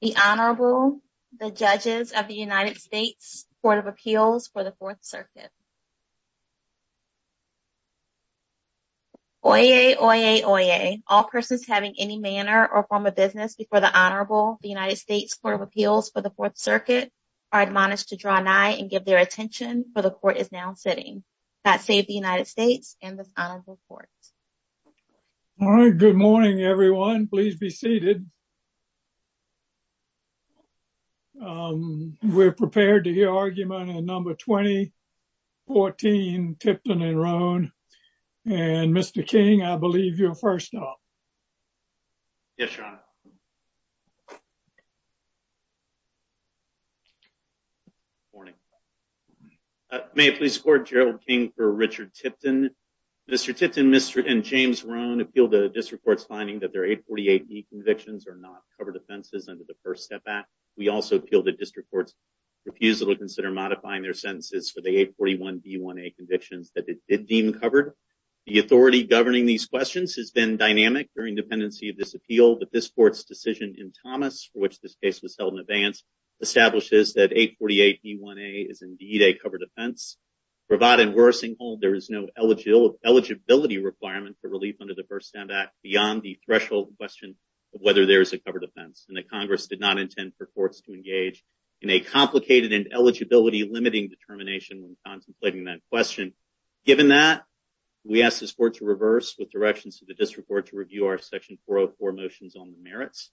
The Honorable, the Judges of the United States Court of Appeals for the Fourth Circuit. Oyez, oyez, oyez. All persons having any manner or form of business before the Honorable, the United States Court of Appeals for the Fourth Circuit, are admonished to draw nigh and give their attention, for the Court is now sitting. God save the United States and this Honorable Court. All right. Good morning, everyone. Please be seated. We're prepared to hear argument in number 2014, Tipton and Roane. And Mr. King, I believe you're first up. Yes, Your Honor. Good morning. May it please the Court, Gerald King for Richard Tipton. Mr. Tipton, Mr. and James Roane appeal the District Court's finding that their 848B convictions are not covered offenses under the First Step Act. We also appeal the District Court's refusal to consider modifying their sentences for the 841B1A convictions that it deemed covered. The authority governing these questions has been dynamic during dependency of this appeal. But this Court's decision in Thomas, for which this case was held in advance, establishes that 848B1A is indeed a covered offense. Provided in Worsing Hall, there is no eligibility requirement for relief under the First Step Act beyond the threshold question of whether there is a covered offense. And the Congress did not intend for courts to engage in a complicated and eligibility-limiting determination when contemplating that question. Given that, we ask this Court to reverse with directions to the District Court to review our Section 404 motions on the merits.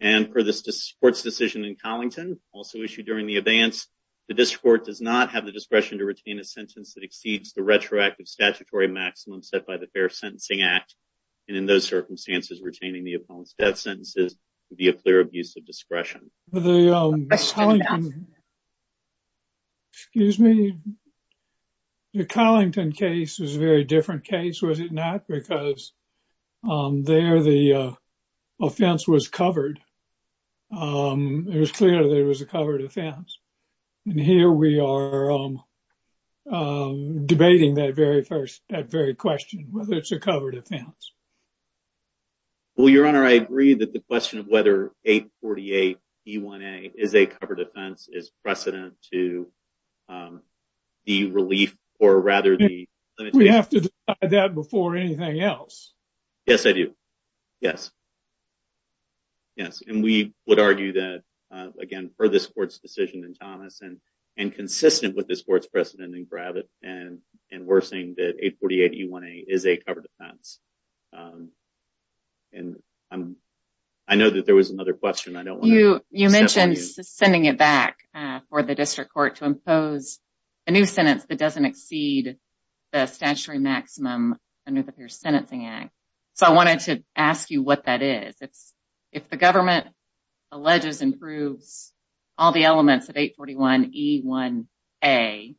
And for this Court's decision in Collington, also issued during the advance, the District Court does not have the discretion to retain a sentence that exceeds the retroactive statutory maximum set by the Fair Sentencing Act. And in those circumstances, retaining the opponent's death sentences would be a clear abuse of discretion. Excuse me. The Collington case was a very different case, was it not? Because there the offense was covered. It was clear there was a covered offense. And here we are debating that very question, whether it's a covered offense. Well, Your Honor, I agree that the question of whether 848E1A is a covered offense is precedent to the relief or rather the limitation. We have to decide that before anything else. Yes, I do. Yes. Yes, and we would argue that, again, for this Court's decision in Thomas, and consistent with this Court's precedent in Gravitt, and we're saying that 848E1A is a covered offense. And I know that there was another question. I don't want to step on you. You mentioned sending it back for the District Court to impose a new sentence that doesn't exceed the statutory maximum under the Fair Sentencing Act. So I wanted to ask you what that is. If the government alleges and proves all the elements of 841E1A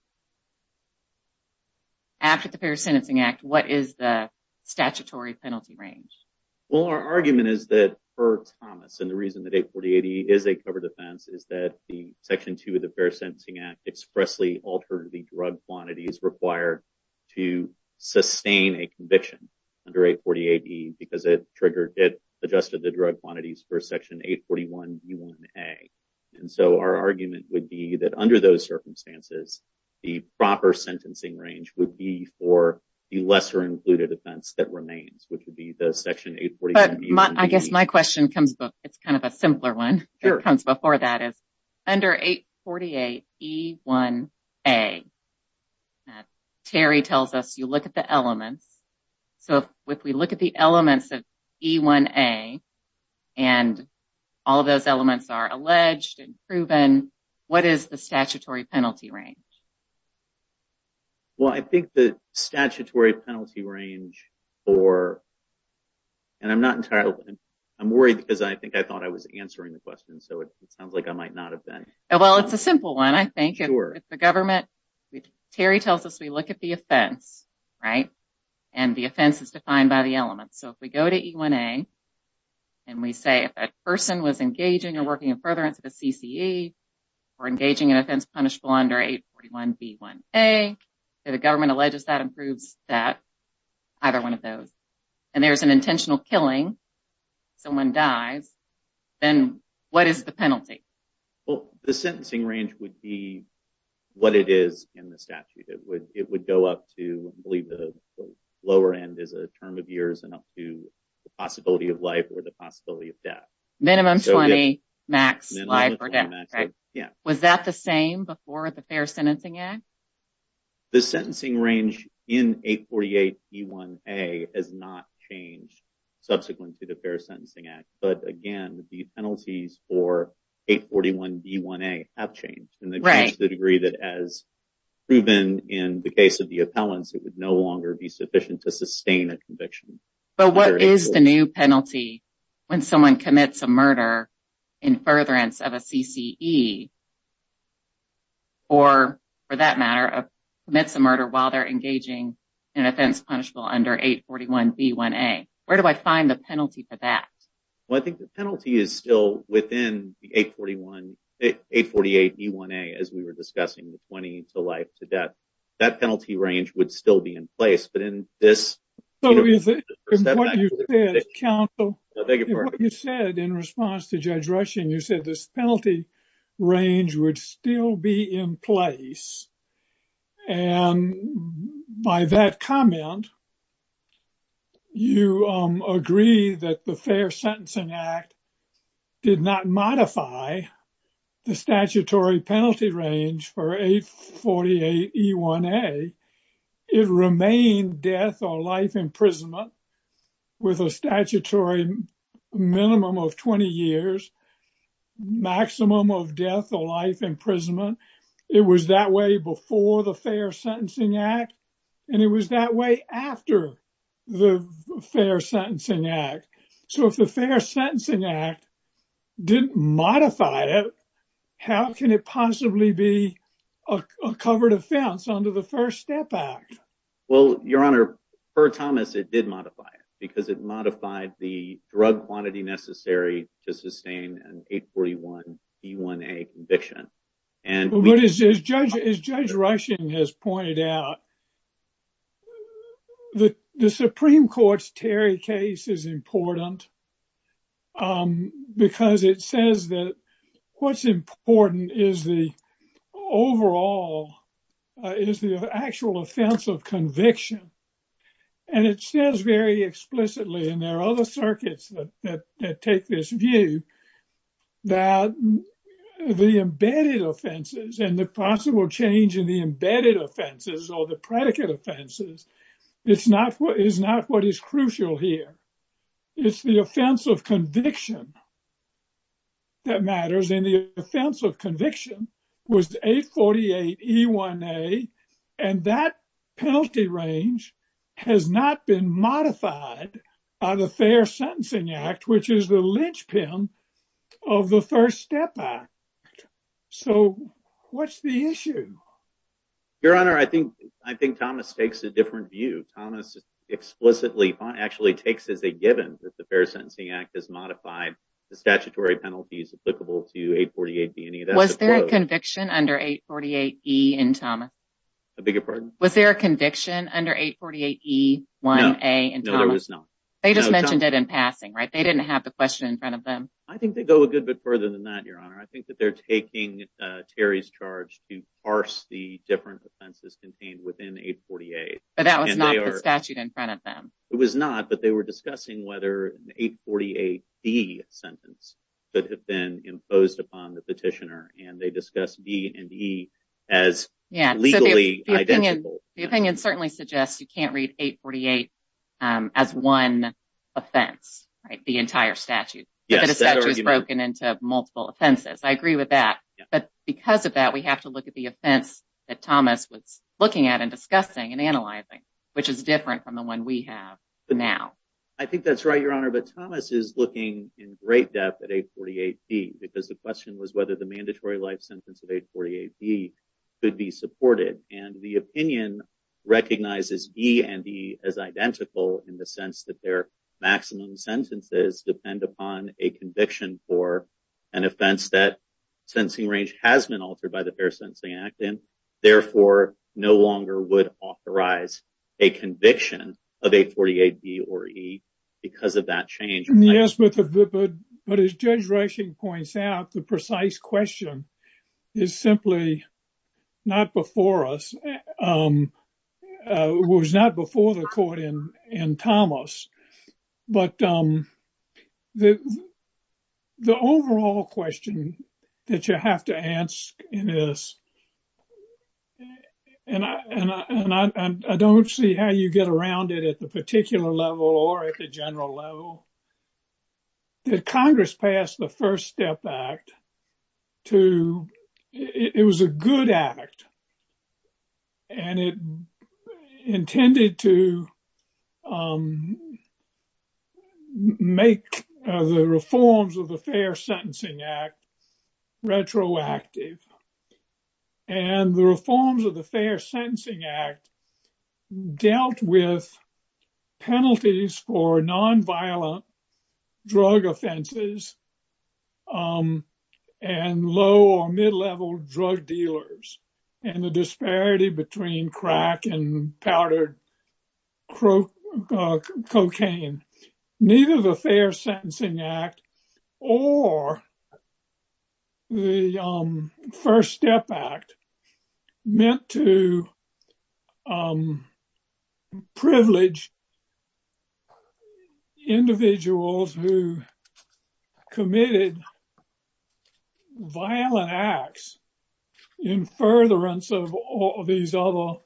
after the Fair Sentencing Act, what is the statutory penalty range? Well, our argument is that for Thomas, and the reason that 848E is a covered offense is that the Section 2 of the Fair Sentencing Act expressly altered the drug quantities required to sustain a conviction under 848E because it adjusted the drug quantities for Section 841E1A. And so our argument would be that under those circumstances, the proper sentencing range would be for the lesser included offense that remains, which would be the Section 841E1B. But I guess my question comes, it's kind of a simpler one. Sure. It comes before that is, under 848E1A, Terry tells us you look at the elements. So if we look at the elements of 848E1A, and all of those elements are alleged and proven, what is the statutory penalty range? Well, I think the statutory penalty range for, and I'm not entirely, I'm worried because I think I thought I was answering the question, so it sounds like I might not have been. Well, it's a simple one, I think. Sure. Terry tells us we look at the offense, right? And the offense is defined by the elements. So if we go to E1A, and we say a person was engaging or working in furtherance of a CCE, or engaging in offense punishable under 841B1A, the government alleges that and proves that, either one of those. And there's an intentional killing, someone dies, then what is the penalty? Well, the sentencing range would be what it is in the statute. It would go up to, I believe the lower end is a term of years, and up to the possibility of life or the possibility of death. Minimum 20, max life or death, right? Yeah. Was that the same before the Fair Sentencing Act? The sentencing range in 848B1A has not changed subsequent to the Fair Sentencing Act. But again, the penalties for 841B1A have changed to the degree that as proven in the case of the appellants, it would no longer be sufficient to sustain a conviction. But what is the new penalty when someone commits a murder in furtherance of a CCE, or for that matter, commits a murder while they're engaging in offense punishable under 841B1A? Where do I find the penalty for that? Well, I think the penalty is still within 848B1A, as we were discussing, the 20 to life to death. That penalty range would still be in place. But in this— So is it, in what you said, counsel, in what you said in response to Judge Rushing, you said this penalty range would still be in place. And by that comment, you agree that the Fair Sentencing Act did not modify the statutory penalty range for 848B1A. It remained death or life imprisonment with a statutory minimum of 20 years, maximum of death or life imprisonment. It was that way before the Fair Sentencing Act, and it was that way after the Fair Sentencing Act. So if the Fair Sentencing Act didn't modify it, how can it possibly be a covered offense under the First Step Act? Well, Your Honor, per Thomas, it did modify it because it modified the drug quantity necessary to sustain an 841B1A conviction. But as Judge Rushing has pointed out, the Supreme Court's Terry case is important because it says that what's important is the overall, is the actual offense of conviction. And it says very explicitly, and there are other circuits that take this view, that the embedded offenses and the possible change in the embedded offenses or the predicate offenses is not what is crucial here. It's the offense of conviction that matters. And the offense of conviction was 848B1A, and that penalty range has not been modified by the Fair Sentencing Act, which is the linchpin of the First Step Act. So what's the issue? Your Honor, I think Thomas takes a different view. Thomas explicitly actually takes as a given that the Fair Sentencing Act has modified the statutory penalties applicable to 848B1A. Was there a conviction under 848E in Thomas? A bigger pardon? Was there a conviction under 848E1A in Thomas? No, there was not. They just mentioned it in passing, right? They didn't have the question in front of them. I think they go a good bit further than that, Your Honor. I think that they're taking Terry's charge to parse the different offenses contained within 848. But that was not the statute in front of them. It was not, but they were discussing whether an 848B sentence could have been imposed upon the petitioner, and they discussed B and E as legally identical. The opinion certainly suggests you can't read 848 as one offense, the entire statute. But the statute is broken into multiple offenses. I agree with that. But because of that, we have to look at the offense that Thomas was looking at and discussing and analyzing, which is different from the one we have now. I think that's right, Your Honor, but Thomas is looking in great depth at 848B because the question was whether the mandatory life sentence of 848B could be supported. And the opinion recognizes B and E as identical in the sense that their maximum sentences depend upon a conviction for an offense that sentencing range has been altered by the Fair Sentencing Act, and therefore no longer would authorize a conviction of 848B or E because of that change. Yes, but as Judge Rushing points out, the precise question is simply not before us, was not before the court in Thomas. But the overall question that you have to ask in this, and I don't see how you get around it at the particular level or at the general level, that Congress passed the First Step Act. It was a good act, and it intended to make the reforms of the Fair Sentencing Act retroactive. And the reforms of the Fair Sentencing Act dealt with penalties for nonviolent drug offenses and low or mid-level drug dealers and the disparity between crack and powdered cocaine. Neither the Fair Sentencing Act or the First Step Act meant to privilege individuals who committed violent acts in furtherance of these other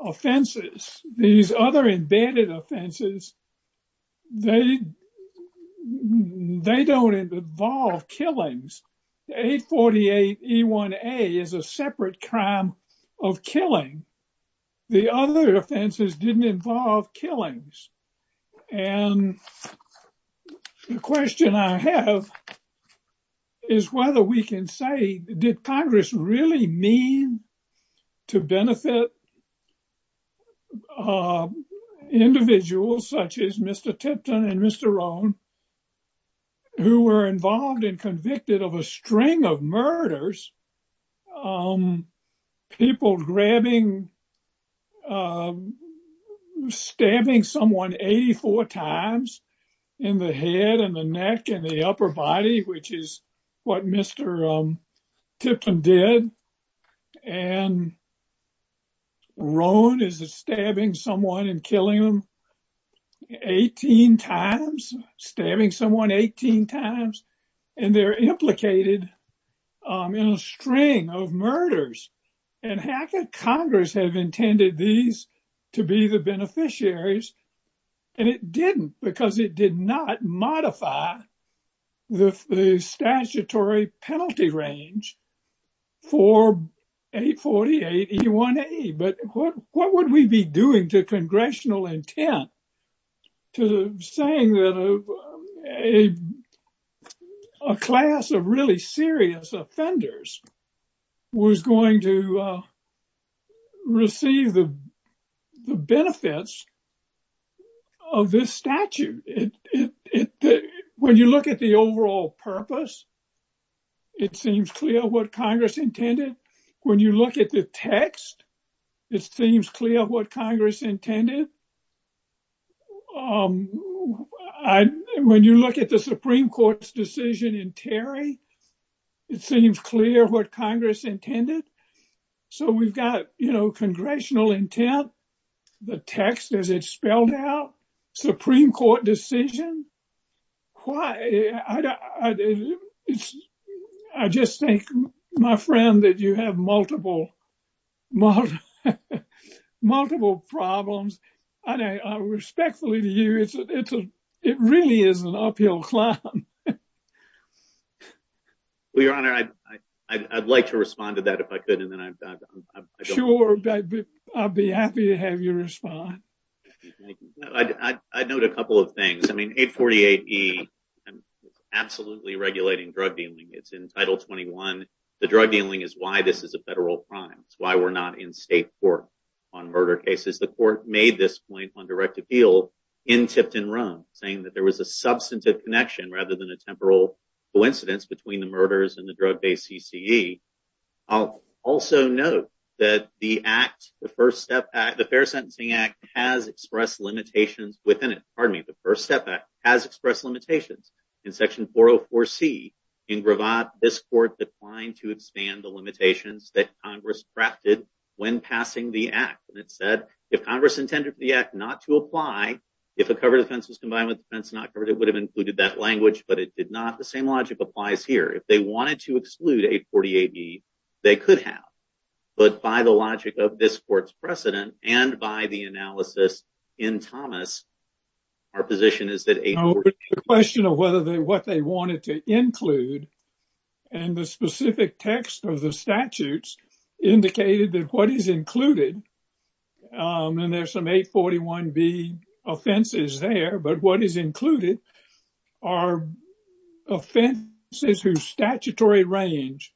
offenses. These other embedded offenses, they don't involve killings. 848E1A is a separate crime of killing. The other offenses didn't involve killings. And the question I have is whether we can say, did Congress really mean to benefit individuals such as Mr. Tipton and Mr. Rohn who were involved and convicted of a string of murders? People grabbing, stabbing someone 84 times in the head and the neck and the upper body, which is what Mr. Tipton did. And Rohn is stabbing someone and killing them 18 times, stabbing someone 18 times. And they're implicated in a string of murders. And how could Congress have intended these to be the beneficiaries? And it didn't because it did not modify the statutory penalty range for 848E1A. But what would we be doing to congressional intent to saying that a class of really serious offenders was going to receive the benefits of this statute? When you look at the overall purpose, it seems clear what Congress intended. When you look at the text, it seems clear what Congress intended. When you look at the Supreme Court's decision in Terry, it seems clear what Congress intended. So we've got, you know, congressional intent, the text as it's spelled out, Supreme Court decision. Why? I just think, my friend, that you have multiple problems. And I respectfully to you, it really is an uphill climb. Well, Your Honor, I'd like to respond to that if I could. Sure, I'd be happy to have you respond. I'd note a couple of things. I mean, 848E is absolutely regulating drug dealing. It's in Title 21. The drug dealing is why this is a federal crime. It's why we're not in state court on murder cases. The court made this point on direct appeal in Tipton, Rome, saying that there was a substantive connection rather than a temporal coincidence between the murders and the drug-based CCE. I'll also note that the Act, the First Step Act, the Fair Sentencing Act, has expressed limitations within it. Pardon me, the First Step Act has expressed limitations. In Section 404C, in gravat, this court declined to expand the limitations that Congress crafted when passing the Act. It said, if Congress intended for the Act not to apply, if a covered offense was combined with an offense not covered, it would have included that language, but it did not. The same logic applies here. If they wanted to exclude 848E, they could have. But by the logic of this court's precedent and by the analysis in Thomas, our position is that 848E… And there's some 841B offenses there. But what is included are offenses whose statutory range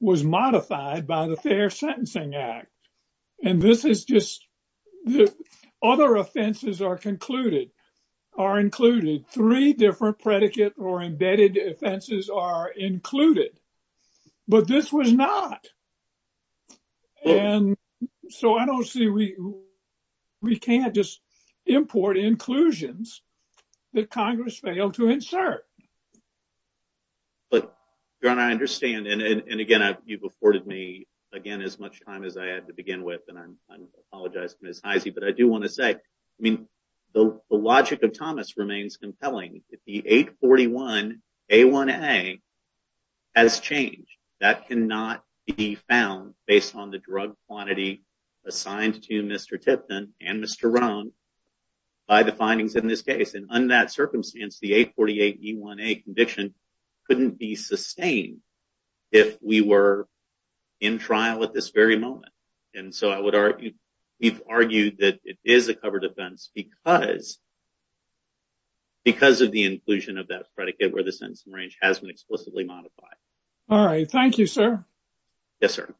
was modified by the Fair Sentencing Act. And this is just… Other offenses are included. Three different predicate or embedded offenses are included. But this was not. And so I don't see… We can't just import inclusions that Congress failed to insert. But, Your Honor, I understand. And again, you've afforded me, again, as much time as I had to begin with. And I apologize to Ms. Heise. But I do want to say, I mean, the logic of Thomas remains compelling. The 841A1A has changed. That cannot be found based on the drug quantity assigned to Mr. Tipton and Mr. Rohn by the findings in this case. And under that circumstance, the 848E1A conviction couldn't be sustained if we were in trial at this very moment. And so I would argue… We've argued that it is a covered offense because of the inclusion of that predicate where the sentencing range has been explicitly modified. Thank you, sir. Yes, sir.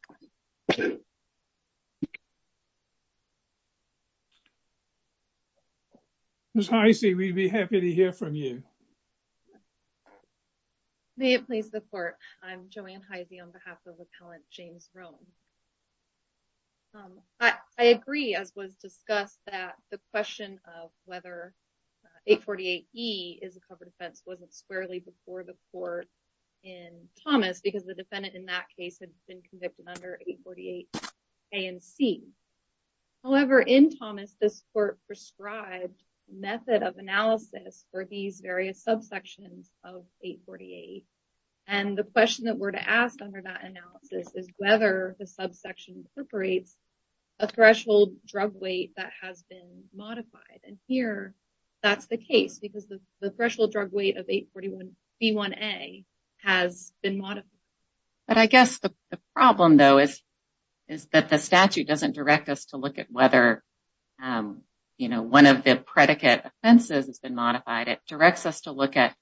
Ms. Heise, we'd be happy to hear from you. May it please the Court. I'm Joanne Heise on behalf of Appellant James Rohn. I agree, as was discussed, that the question of whether 848E is a covered offense wasn't squarely before the Court in Thomas because the defendant in that case had been convicted under 848A and C. However, in Thomas, this Court prescribed method of analysis for these various subsections of 848. And the question that we're to ask under that analysis is whether the subsection incorporates a threshold drug weight that has been modified. And here, that's the case because the threshold drug weight of 841B1A has been modified. But I guess the problem, though, is that the statute doesn't direct us to look at whether, you know, one of the predicate offenses has been modified. It directs us to look at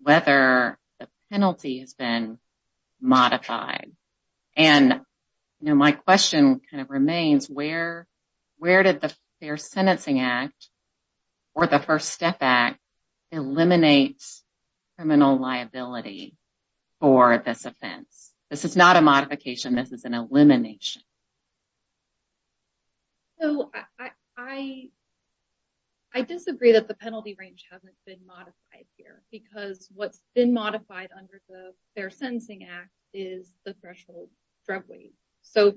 whether the penalty has been modified. And, you know, my question kind of remains, where did the Fair Sentencing Act or the First Step Act eliminate criminal liability for this offense? This is not a modification. This is an elimination. So, I disagree that the penalty range hasn't been modified here because what's been modified under the Fair Sentencing Act is the threshold drug weight. So,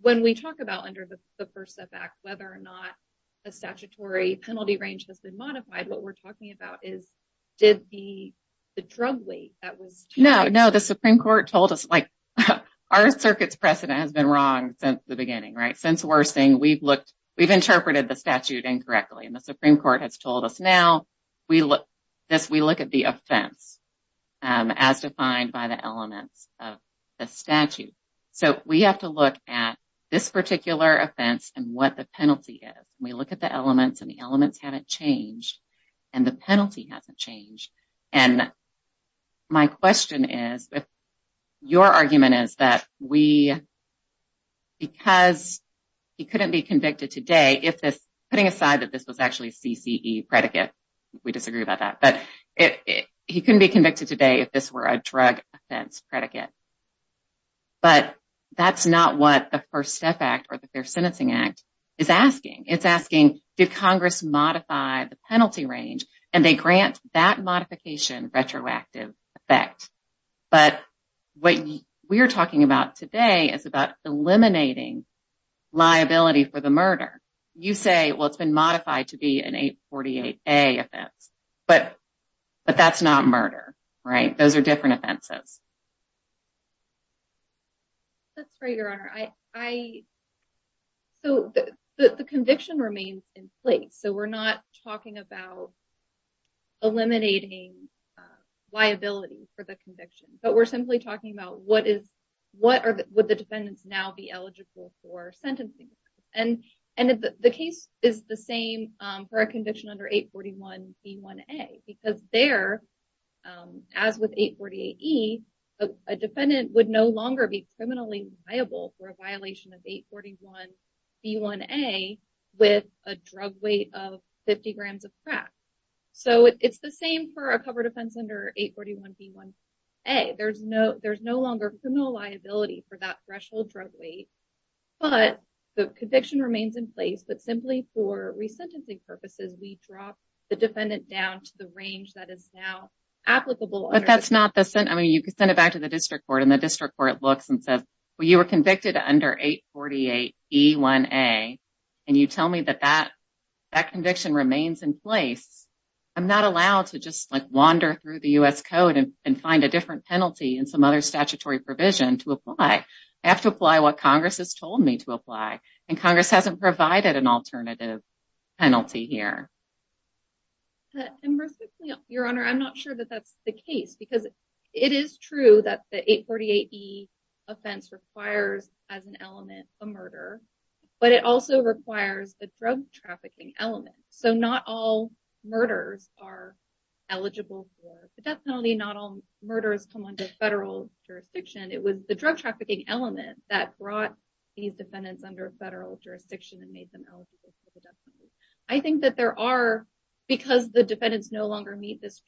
when we talk about under the First Step Act whether or not a statutory penalty range has been modified, what we're talking about is did the drug weight that was… No, no, the Supreme Court told us, like, our circuit's precedent has been wrong since the beginning, right? Since we're saying we've looked, we've interpreted the statute incorrectly. And the Supreme Court has told us now we look, this, we look at the offense as defined by the elements of the statute. So, we have to look at this particular offense and what the penalty is. We look at the elements and the elements haven't changed and the penalty hasn't changed. And my question is, if your argument is that we, because he couldn't be convicted today if this, putting aside that this was actually a CCE predicate, we disagree about that. But he couldn't be convicted today if this were a drug offense predicate. But that's not what the First Step Act or the Fair Sentencing Act is asking. It's asking, did Congress modify the penalty range? And they grant that modification retroactive effect. But what we're talking about today is about eliminating liability for the murder. You say, well, it's been modified to be an 848A offense. But that's not murder, right? Those are different offenses. That's right, Your Honor. So, the conviction remains in place. So, we're not talking about eliminating liability for the conviction. But we're simply talking about what is, what are, would the defendants now be eligible for sentencing? And the case is the same for a conviction under 841B1A, because there, as with 848E, a defendant would no longer be criminally liable for a violation of 841B1A with a drug weight of 50 grams of crack. So, it's the same for a covered offense under 841B1A. There's no longer criminal liability for that threshold drug weight. But the conviction remains in place. But simply for resentencing purposes, we drop the defendant down to the range that is now applicable. But that's not the sentence. I mean, you could send it back to the district court, and the district court looks and says, well, you were convicted under 848E1A. And you tell me that that conviction remains in place. I'm not allowed to just, like, wander through the U.S. Code and find a different penalty in some other statutory provision to apply. I have to apply what Congress has told me to apply. And Congress hasn't provided an alternative penalty here. Your Honor, I'm not sure that that's the case. Because it is true that the 848E offense requires, as an element, a murder. But it also requires a drug trafficking element. So, not all murders are eligible for the death penalty. Not all murders come under federal jurisdiction. It was the drug trafficking element that brought these defendants under federal jurisdiction and made them eligible for the death penalty. I think that there are, because the defendants no longer meet this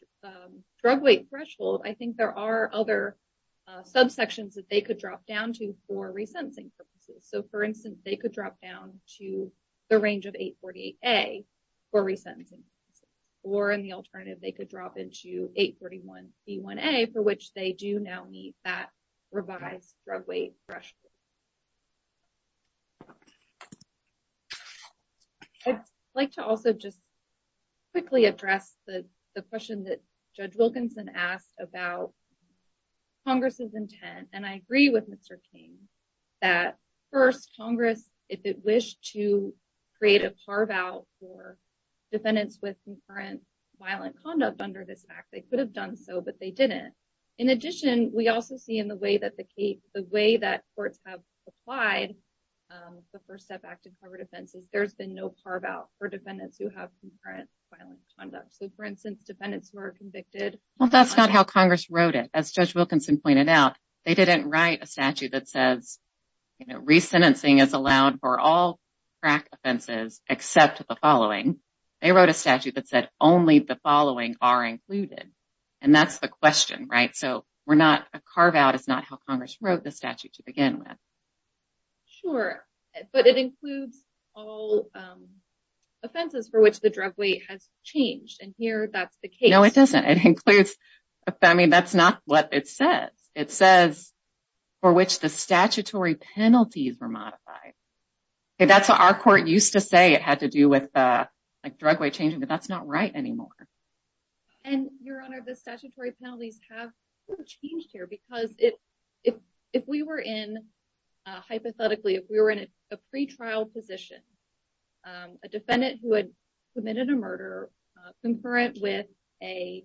drug weight threshold, I think there are other subsections that they could drop down to for resentencing purposes. So, for instance, they could drop down to the range of 848A for resentencing purposes. Or, in the alternative, they could drop into 841B1A, for which they do now meet that revised drug weight threshold. I'd like to also just quickly address the question that Judge Wilkinson asked about Congress's intent. And I agree with Mr. King that, first, Congress, if it wished to create a par-vote for defendants with concurrent violent conduct under this act, they could have done so, but they didn't. In addition, we also see in the way that courts have applied the First Step Act to covered offenses, there's been no par-vote for defendants who have concurrent violent conduct. So, for instance, defendants who are convicted… Well, that's not how Congress wrote it. As Judge Wilkinson pointed out, they didn't write a statute that says resentencing is allowed for all crack offenses except the following. They wrote a statute that said only the following are included. And that's the question, right? So, a carve-out is not how Congress wrote the statute to begin with. Sure, but it includes all offenses for which the drug weight has changed, and here that's the case. No, it doesn't. It includes… I mean, that's not what it says. It says for which the statutory penalties were modified. That's what our court used to say it had to do with, like, drug weight changing, but that's not right anymore. And, Your Honor, the statutory penalties have changed here because if we were in… Hypothetically, if we were in a pretrial position, a defendant who had committed a murder concurrent with a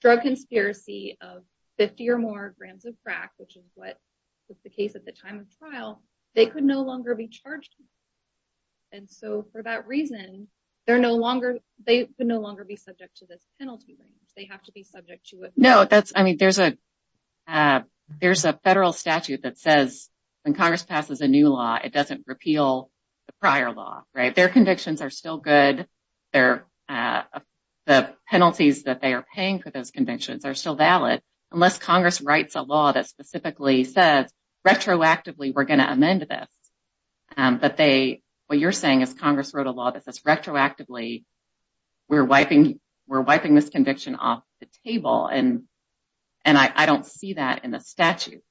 drug conspiracy of 50 or more grams of crack, which is what was the case at the time of trial, they could no longer be charged. And so, for that reason, they're no longer… They can no longer be subject to this penalty. They have to be subject to it. No, that's… I mean, there's a federal statute that says when Congress passes a new law, it doesn't repeal the prior law, right? Their convictions are still good. The penalties that they are paying for those convictions are still valid unless Congress writes a law that specifically says retroactively we're going to amend this. But they… What you're saying is Congress wrote a law that says retroactively we're wiping this conviction off the table, and I don't see that in the statute.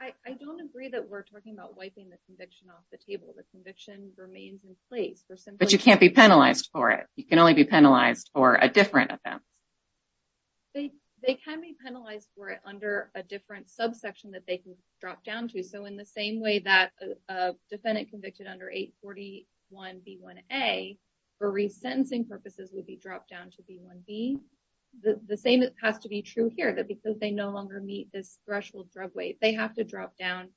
I don't agree that we're talking about wiping the conviction off the table. The conviction remains in place. But you can't be penalized for it. You can only be penalized for a different offense. They can be penalized for it under a different subsection that they can drop down to. So, in the same way that a defendant convicted under 841B1A for resentencing purposes would be dropped down to B1B, the same has to be true here. That because they no longer meet this threshold drug weight, they have to drop down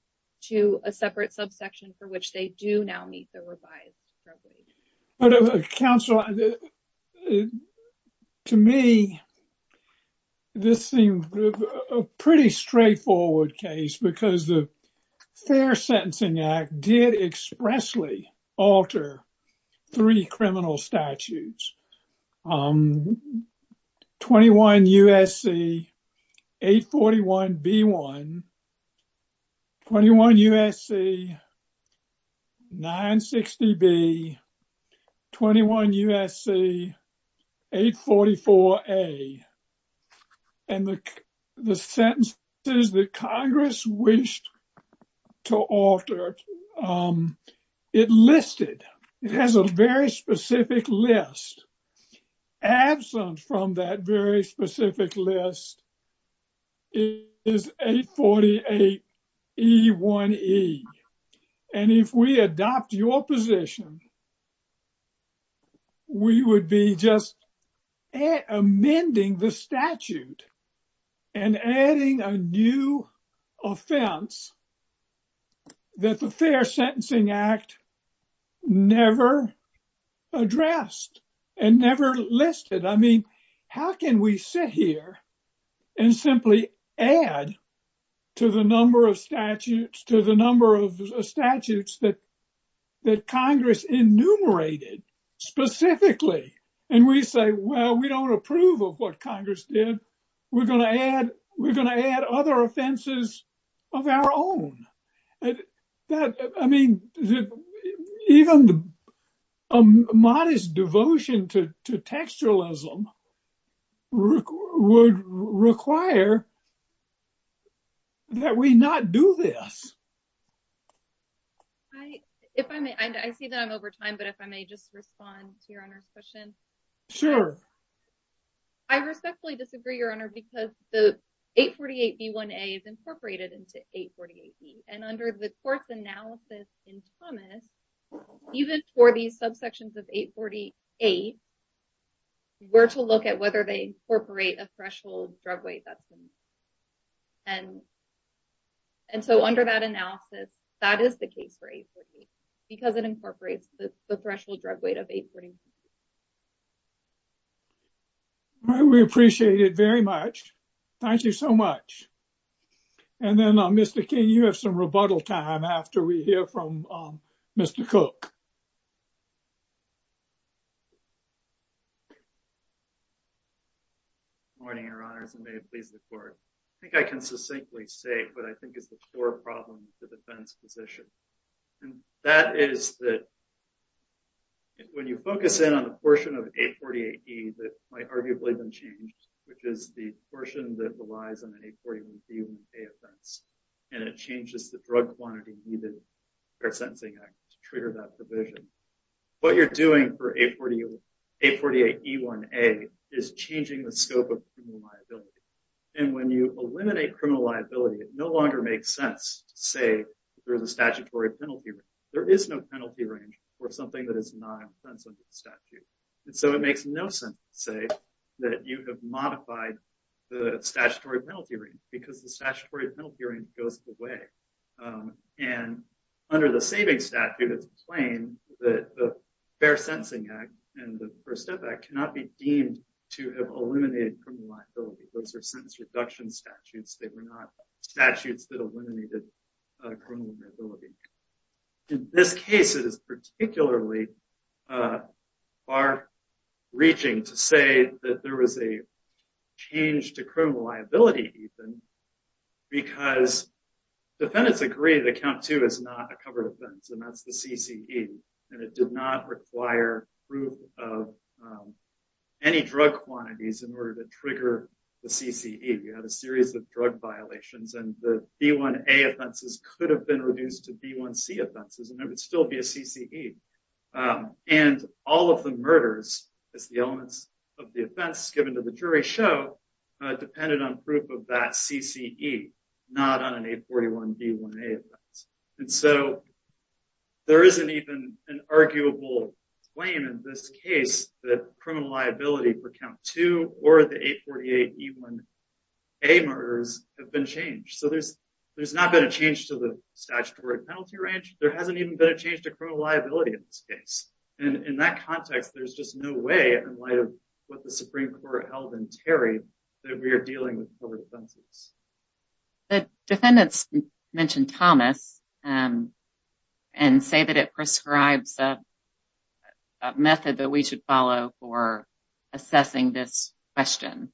to a separate subsection for which they do now meet the revised drug weight. But, Counsel, to me, this seems a pretty straightforward case because the Fair Sentencing Act did expressly alter three criminal statutes. 21 U.S.C. 841B1, 21 U.S.C. 960B, 21 U.S.C. 844A. And the sentences that Congress wished to alter, it listed. It has a very specific list. Absent from that very specific list is 848E1E. And if we adopt your position, we would be just amending the statute and adding a new offense that the Fair Sentencing Act never addressed and never listed. I mean, how can we sit here and simply add to the number of statutes that Congress enumerated specifically? And we say, well, we don't approve of what Congress did. We're going to add other offenses of our own. I mean, even a modest devotion to textualism would require that we not do this. I see that I'm over time, but if I may just respond to your Honor's question. Sure. I respectfully disagree, Your Honor, because the 848B1A is incorporated into 848E. And under the course analysis in Thomas, even for these subsections of 848, we're to look at whether they incorporate a threshold drug weight. And. And so under that analysis, that is the case for 848, because it incorporates the threshold drug weight of 848. We appreciate it very much. Thank you so much. And then Mr. King, you have some rebuttal time after we hear from Mr. Cook. Good morning, Your Honors, and may it please the Court. I think I can succinctly say what I think is the core problem with the defense position. And that is that when you focus in on the portion of 848E that might arguably been changed, which is the portion that relies on the 841B1A offense, and it changes the drug quantity needed for a sentencing act to trigger that provision, what you're doing for 848E1A is changing the scope of criminal liability. And when you eliminate criminal liability, it no longer makes sense to say there is a statutory penalty. There is no penalty range for something that is not an offense under the statute. And so it makes no sense to say that you have modified the statutory penalty range, because the statutory penalty range goes away. And under the savings statute, it's plain that the Fair Sentencing Act and the First Step Act cannot be deemed to have eliminated criminal liability. Those are sentence reduction statutes. They were not statutes that eliminated criminal liability. In this case, it is particularly far-reaching to say that there was a change to criminal liability, Ethan, because defendants agree that Count 2 is not a covered offense, and that's the CCE, and it did not require proof of any drug quantities in order to trigger the CCE. You had a series of drug violations, and the B1A offenses could have been reduced to B1C offenses, and it would still be a CCE. And all of the murders, as the elements of the offense given to the jury show, depended on proof of that CCE, not on an 841B1A offense. And so there isn't even an arguable claim in this case that criminal liability for Count 2 or the 848E1A murders have been changed. So there's not been a change to the statutory penalty range. There hasn't even been a change to criminal liability in this case. And in that context, there's just no way, in light of what the Supreme Court held in Terry, that we are dealing with covered offenses. The defendants mentioned Thomas and say that it prescribes a method that we should follow for assessing this question,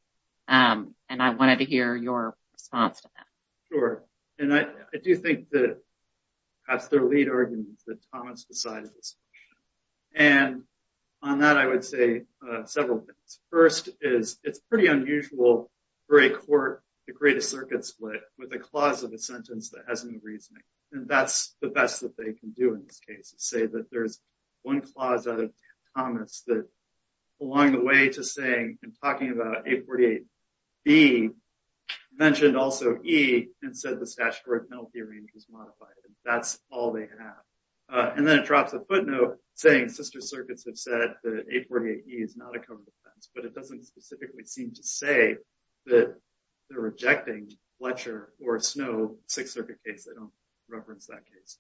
and I wanted to hear your response to that. Sure. And I do think that perhaps their lead argument is that Thomas decided this. And on that, I would say several things. First is it's pretty unusual for a court to create a circuit split with a clause of a sentence that has no reasoning, and that's the best that they can do in this case, to say that there's one clause out of Thomas that, along the way to saying and talking about 848B, mentioned also E and said the statutory penalty range was modified, and that's all they have. And then it drops a footnote saying sister circuits have said that 848E is not a covered offense, but it doesn't specifically seem to say that they're rejecting Fletcher or Snow six-circuit case. They don't reference that case.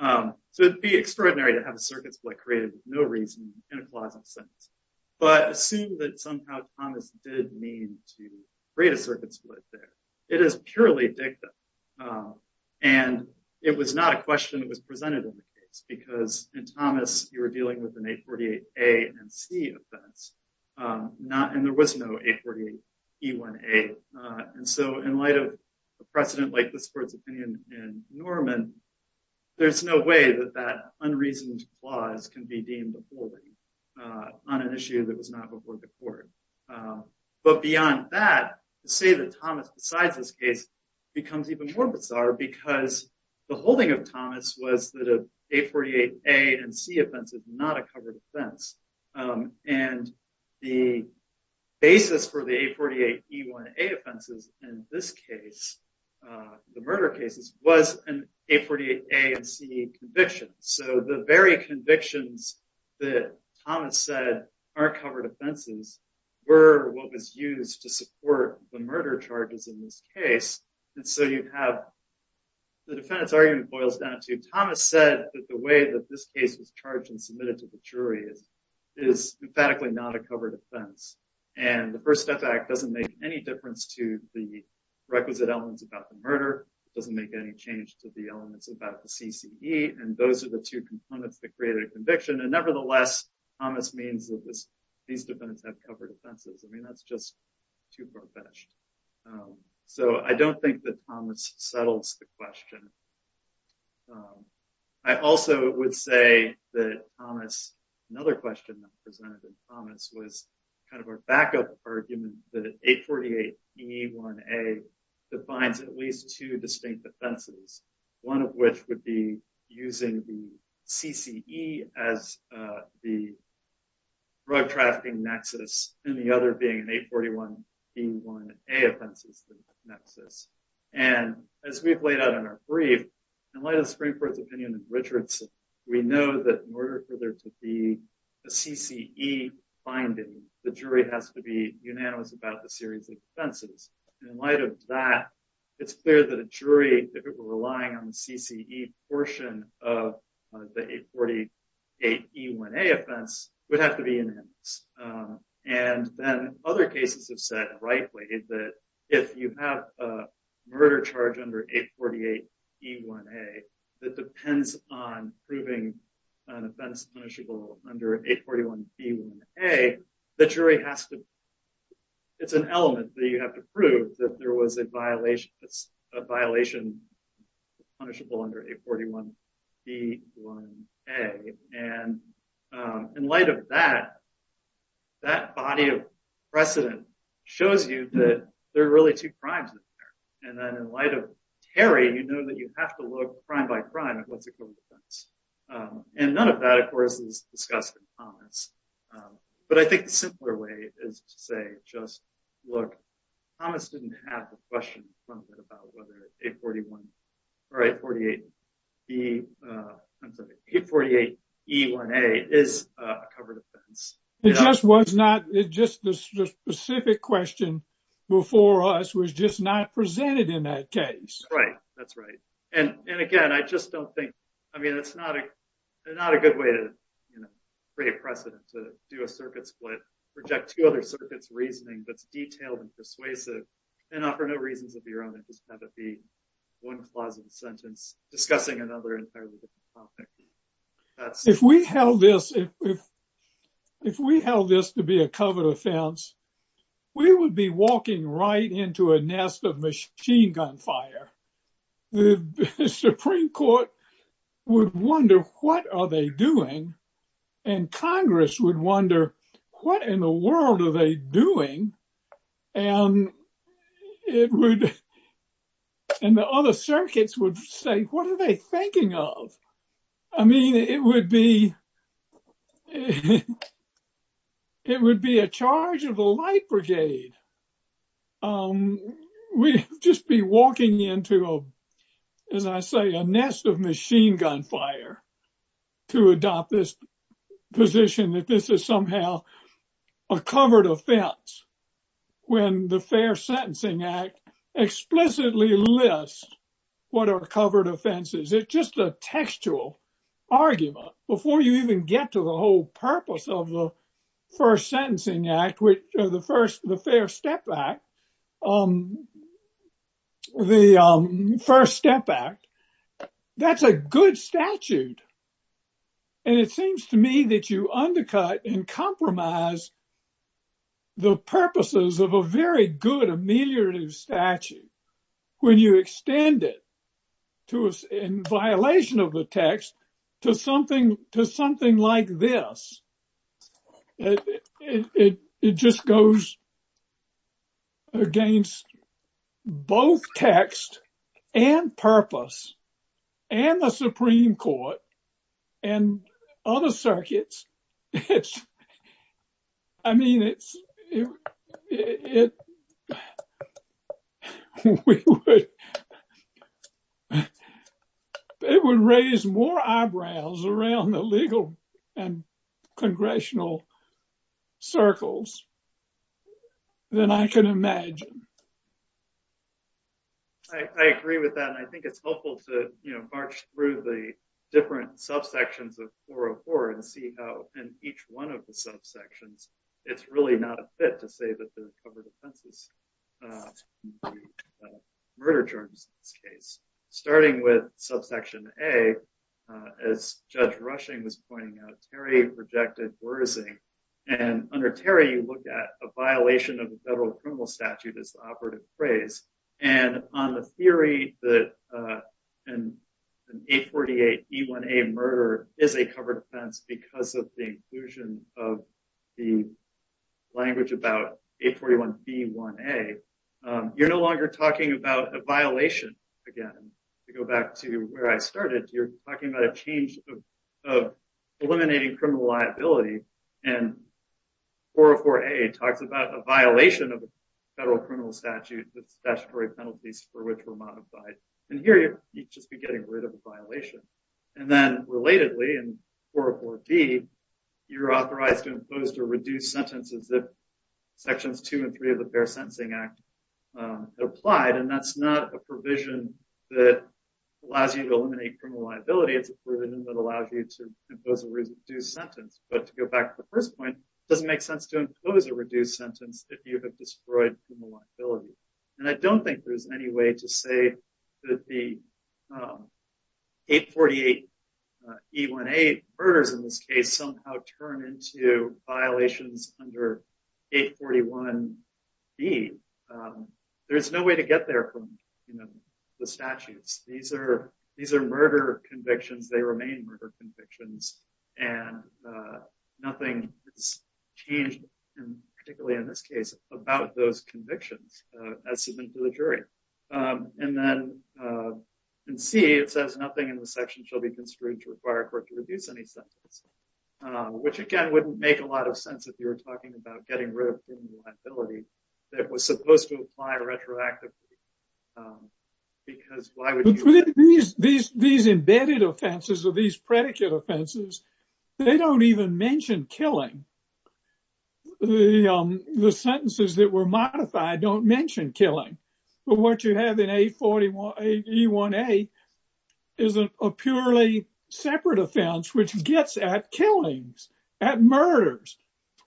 So it would be extraordinary to have a circuit split created with no reason and a clause of a sentence. But assume that somehow Thomas did mean to create a circuit split there. It is purely dicta, and it was not a question that was presented in the case, because in Thomas, you were dealing with an 848A and C offense, and there was no 848E1A. And so in light of a precedent like this court's opinion in Norman, there's no way that that unreasoned clause can be deemed a bully on an issue that was not before the court. But beyond that, to say that Thomas, besides this case, becomes even more bizarre because the holding of Thomas was that an 848A and C offense is not a covered offense. And the basis for the 848E1A offenses in this case, the murder cases, was an 848A and C conviction. So the very convictions that Thomas said aren't covered offenses were what was used to support the murder charges in this case. And so you have the defendant's argument boils down to Thomas said that the way that this case was charged and submitted to the jury is emphatically not a covered offense. And the First Step Act doesn't make any difference to the requisite elements about the murder, doesn't make any change to the elements about the CCE, and those are the two components that create a conviction. And nevertheless, Thomas means that these defendants have covered offenses. I mean, that's just too far-fetched. So I don't think that Thomas settles the question. I also would say that Thomas, another question that was presented to Thomas was kind of a backup argument that an 848E1A defines at least two distinct offenses, one of which would be using the CCE as the drug trafficking nexus, and the other being an 841E1A offense as the nexus. And as we've laid out in our brief, in light of the Supreme Court's opinion in Richardson, we know that in order for there to be a CCE finding, the jury has to be unanimous about the series of offenses. In light of that, it's clear that a jury, if it were relying on the CCE portion of the 848E1A offense, would have to be unanimous. And then other cases have said, rightly, that if you have a murder charge under 848E1A that depends on proving an offense punishable under 841E1A, the jury has to – it's an element that you have to prove that there was a violation punishable under 841E1A. And in light of that, that body of precedent shows you that there are really two crimes in there. It just was not – just the specific question before us was just not presented in that case. Right. That's right. And again, I just don't think – I mean, it's not a good way to create precedent to do a circuit split, reject two other circuits' reasoning that's detailed and persuasive, and offer no reasons of your own and just have it be one clause of the sentence discussing another entirely different topic. If we held this to be a covered offense, we would be walking right into a nest of machine gun fire. The Supreme Court would wonder, what are they doing? And Congress would wonder, what in the world are they doing? And it would – and the other circuits would say, what are they thinking of? I mean, it would be a charge of the light brigade. We'd just be walking into, as I say, a nest of machine gun fire to adopt this position that this is somehow a covered offense when the Fair Sentencing Act explicitly lists what are covered offenses. It's just a textual argument. Before you even get to the whole purpose of the First Sentencing Act, the First Step Act, that's a good statute. And it seems to me that you undercut and compromise the purposes of a very good ameliorative statute when you extend it in violation of the text to something like this. It just goes against both text and purpose and the Supreme Court and other circuits. I mean, it would raise more eyebrows around the legal and congressional circles than I can imagine. I agree with that, and I think it's helpful to march through the different subsections of 404 and see how in each one of the subsections, it's really not a fit to say that the covered offenses are murder germs in this case. Starting with subsection A, as Judge Rushing was pointing out, Terry rejected worsing. And under Terry, you look at a violation of the federal criminal statute as the operative phrase. And on the theory that an 848E1A murder is a covered offense because of the inclusion of the language about 841B1A, you're no longer talking about a violation. Again, to go back to where I started, you're talking about a change of eliminating criminal liability. And 404A talks about a violation of the federal criminal statute, the statutory penalties for which were modified. And here, you'd just be getting rid of a violation. And then, relatedly, in 404B, you're authorized to impose or reduce sentences that Sections 2 and 3 of the Fair Sentencing Act applied. And that's not a provision that allows you to eliminate criminal liability. It's a provision that allows you to impose a reduced sentence. But to go back to the first point, it doesn't make sense to impose a reduced sentence if you have destroyed criminal liability. And I don't think there's any way to say that the 848E1A murders, in this case, somehow turn into violations under 841B. There's no way to get there from the statutes. These are murder convictions. They remain murder convictions. And nothing is changed, particularly in this case, about those convictions as submitted to the jury. And then in C, it says, nothing in the section shall be construed to require a court to reduce any sentence, which, again, wouldn't make a lot of sense if you were talking about getting rid of criminal liability that was supposed to apply retroactively. These embedded offenses or these predicate offenses, they don't even mention killing. The sentences that were modified don't mention killing. But what you have in 841E1A is a purely separate offense, which gets at killings, at murders,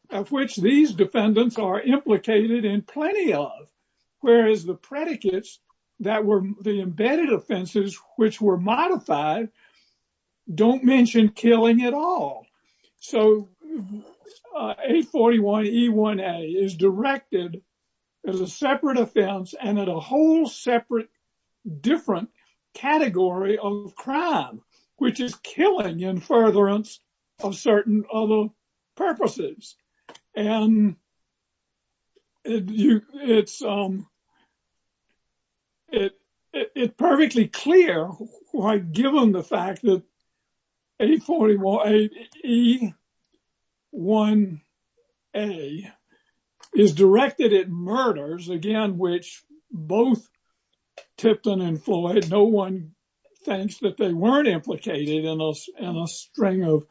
of which these defendants are implicated in plenty of. Whereas the predicates that were the embedded offenses, which were modified, don't mention killing at all. So 841E1A is directed as a separate offense and at a whole separate, different category of crime, which is killing in furtherance of certain other purposes. And it's perfectly clear, given the fact that 841E1A is directed at murders, again, which both Tipton and Floyd, no one thinks that they weren't implicated in a string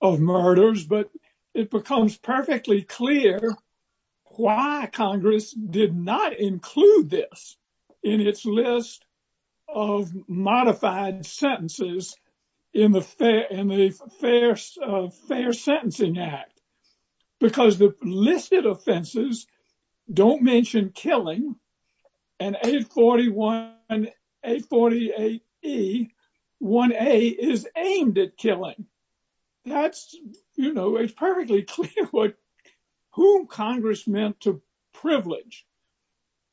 of murders. But it becomes perfectly clear why Congress did not include this in its list of modified sentences in the Fair Sentencing Act. Because the listed offenses don't mention killing and 841E1A is aimed at killing. That's, you know, it's perfectly clear who Congress meant to privilege.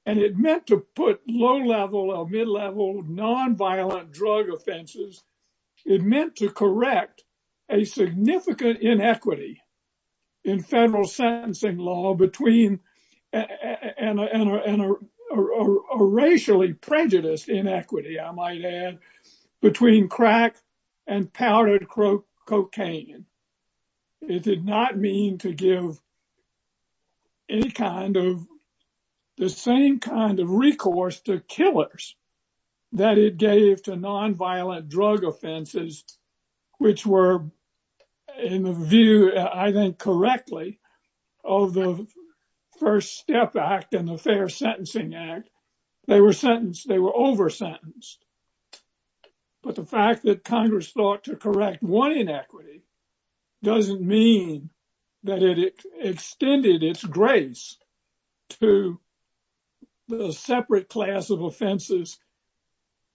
And it meant to put low-level or mid-level nonviolent drug offenses. It meant to correct a significant inequity in federal sentencing law between a racially prejudiced inequity, I might add, between crack and powdered cocaine. It did not mean to give any kind of, the same kind of recourse to killers that it gave to nonviolent drug offenses, which were in the view, I think, correctly of the First Step Act and the Fair Sentencing Act. They were sentenced, they were over-sentenced. But the fact that Congress thought to correct one inequity doesn't mean that it extended its grace to the separate class of offenses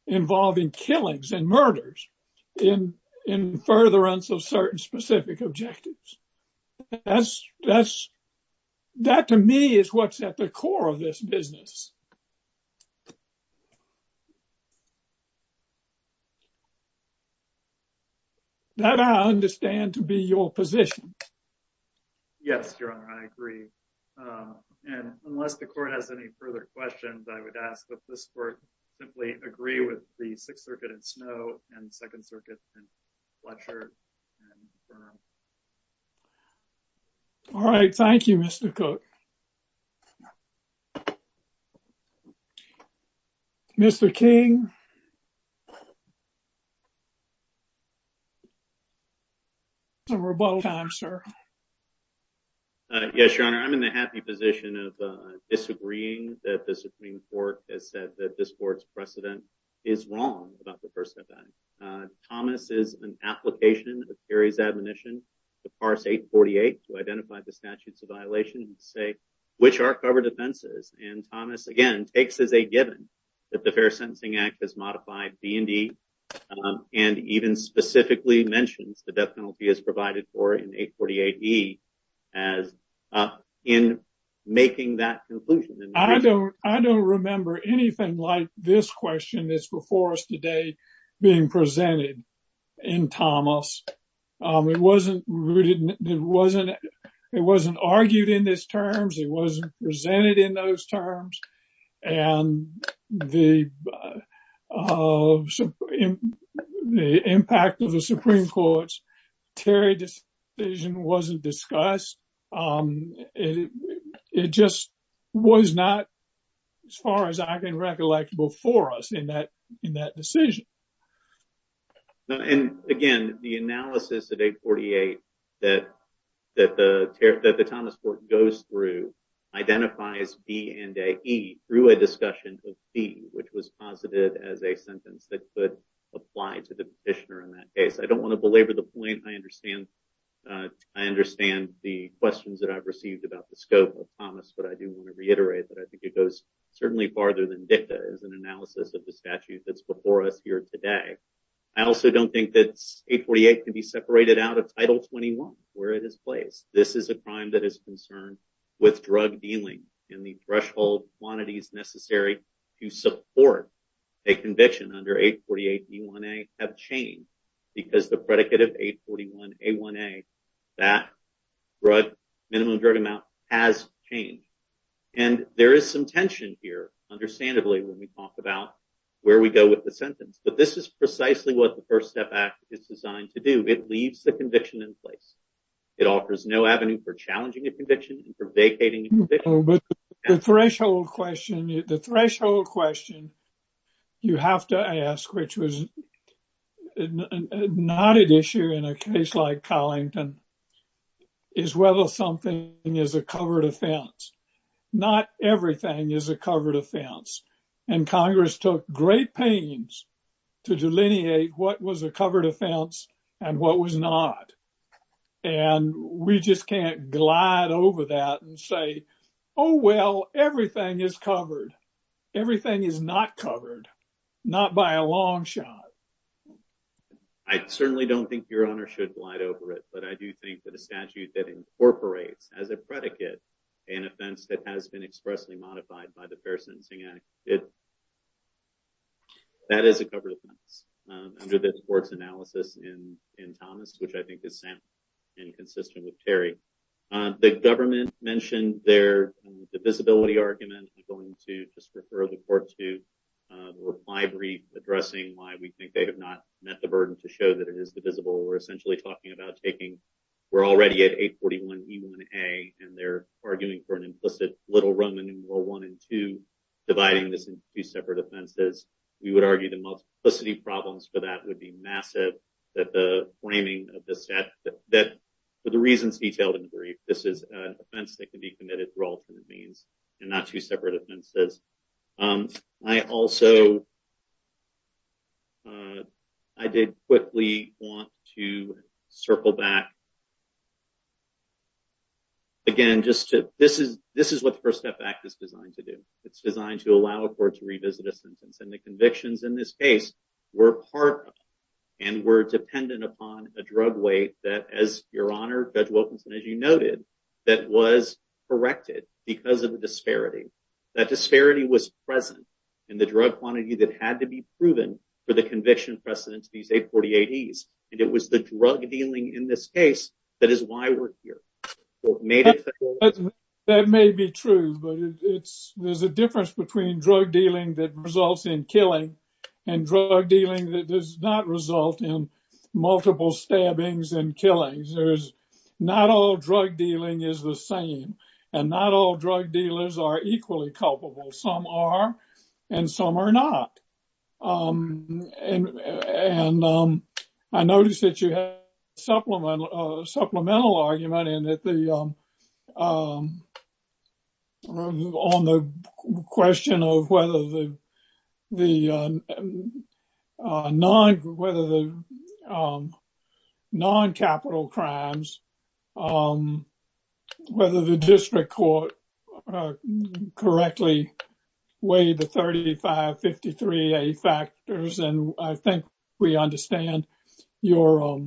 involving killings and murders in furtherance of certain specific objectives. That to me is what's at the core of this business. That I understand to be your position. Yes, Your Honor, I agree. And unless the Court has any further questions, I would ask that this Court simply agree with the Sixth Circuit in Snow and Second Circuit in Fletcher and confirm. All right. Thank you, Mr. Cook. Mr. King. We're about time, sir. Yes, Your Honor, I'm in the happy position of disagreeing that the Supreme Court has said that this Court's precedent is wrong about the First Step Act. Thomas is an application of Kerry's admonition to parse 848 to identify the statutes of violation and say which are covered offenses. And Thomas, again, takes as a given that the Fair Sentencing Act has modified BND and even specifically mentions the death penalty as provided for in 848E in making that conclusion. I don't remember anything like this question that's before us today being presented in Thomas. It wasn't rooted, it wasn't, it wasn't argued in this terms. It wasn't presented in those terms. And the impact of the Supreme Court's Terry decision wasn't discussed. It just was not, as far as I can recollect, before us in that decision. And, again, the analysis of 848 that the Thomas Court goes through identifies BND through a discussion of B, which was posited as a sentence that could apply to the petitioner in that case. I don't want to belabor the point. I understand the questions that I've received about the scope of Thomas, but I do want to reiterate that I think it goes certainly farther than dicta as an analysis of the statute that's before us here today. I also don't think that 848 can be separated out of Title 21, where it is placed. This is a crime that is concerned with drug dealing, and the threshold quantities necessary to support a conviction under 848E1A have changed because the predicate of 841A1A, that drug, minimum drug amount, has changed. And there is some tension here, understandably, when we talk about where we go with the sentence. But this is precisely what the First Step Act is designed to do. It leaves the conviction in place. It offers no avenue for challenging a conviction and for vacating a conviction. The threshold question you have to ask, which was not an issue in a case like Collington, is whether something is a covered offense. Not everything is a covered offense. And Congress took great pains to delineate what was a covered offense and what was not. And we just can't glide over that and say, oh, well, everything is covered. Everything is not covered. Not by a long shot. I certainly don't think Your Honor should glide over it, but I do think that a statute that incorporates, as a predicate, an offense that has been expressly modified by the Fair Sentencing Act, that is a covered offense, under this Court's analysis in Thomas, which I think is sound and consistent with Terry. The government mentioned their divisibility argument. I'm going to just refer the Court to the reply brief addressing why we think they have not met the burden to show that it is divisible. We're essentially talking about taking, we're already at 841e1a, and they're arguing for an implicit little Roman numeral 1 and 2, dividing this into two separate offenses. We would argue the multiplicity problems for that would be massive, that the framing of the statute, that for the reasons detailed in the brief, this is an offense that can be committed through alternate means and not two separate offenses. I also, I did quickly want to circle back, again, just to, this is what the First Step Act is designed to do. It's designed to allow a court to revisit a sentence, and the convictions in this case were part of, and were dependent upon, a drug weight that, as Your Honor, Judge Wilkinson, as you noted, that was corrected because of the disparity. That disparity was present in the drug quantity that had to be proven for the conviction precedent to these 848Es, and it was the drug dealing in this case that is why we're here. That may be true, but it's, there's a difference between drug dealing that results in killing and drug dealing that does not result in multiple stabbings and killings. Not all drug dealing is the same, and not all drug dealers are equally culpable. Some are, and some are not. And I noticed that you had a supplemental argument in that the, on the question of whether the noncapital crimes, whether the district court correctly weighed the 3,553. ADA factors, and I think we understand your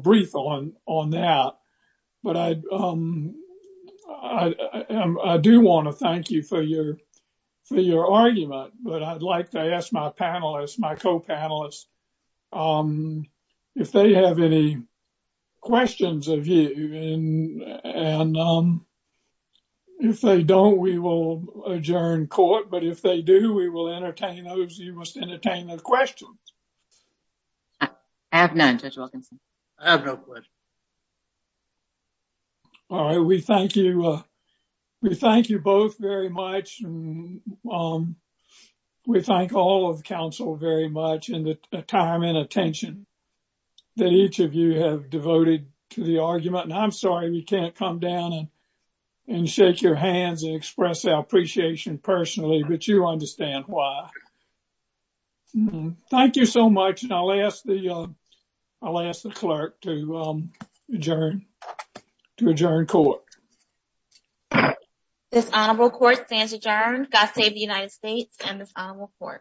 brief on that. But I do want to thank you for your argument, but I'd like to ask my panelists, my co-panelists, if they have any questions of you. And if they don't, we will adjourn court. But if they do, we will entertain those. You must entertain those questions. I have none, Judge Wilkinson. I have no questions. All right, we thank you. We thank you both very much. We thank all of the council very much, and the time and attention that each of you have devoted to the argument. And I'm sorry we can't come down and shake your hands and express our appreciation personally, but you understand why. Thank you so much. And I'll ask the, I'll ask the clerk to adjourn, to adjourn court. This honorable court stands adjourned. God save the United States and this honorable court.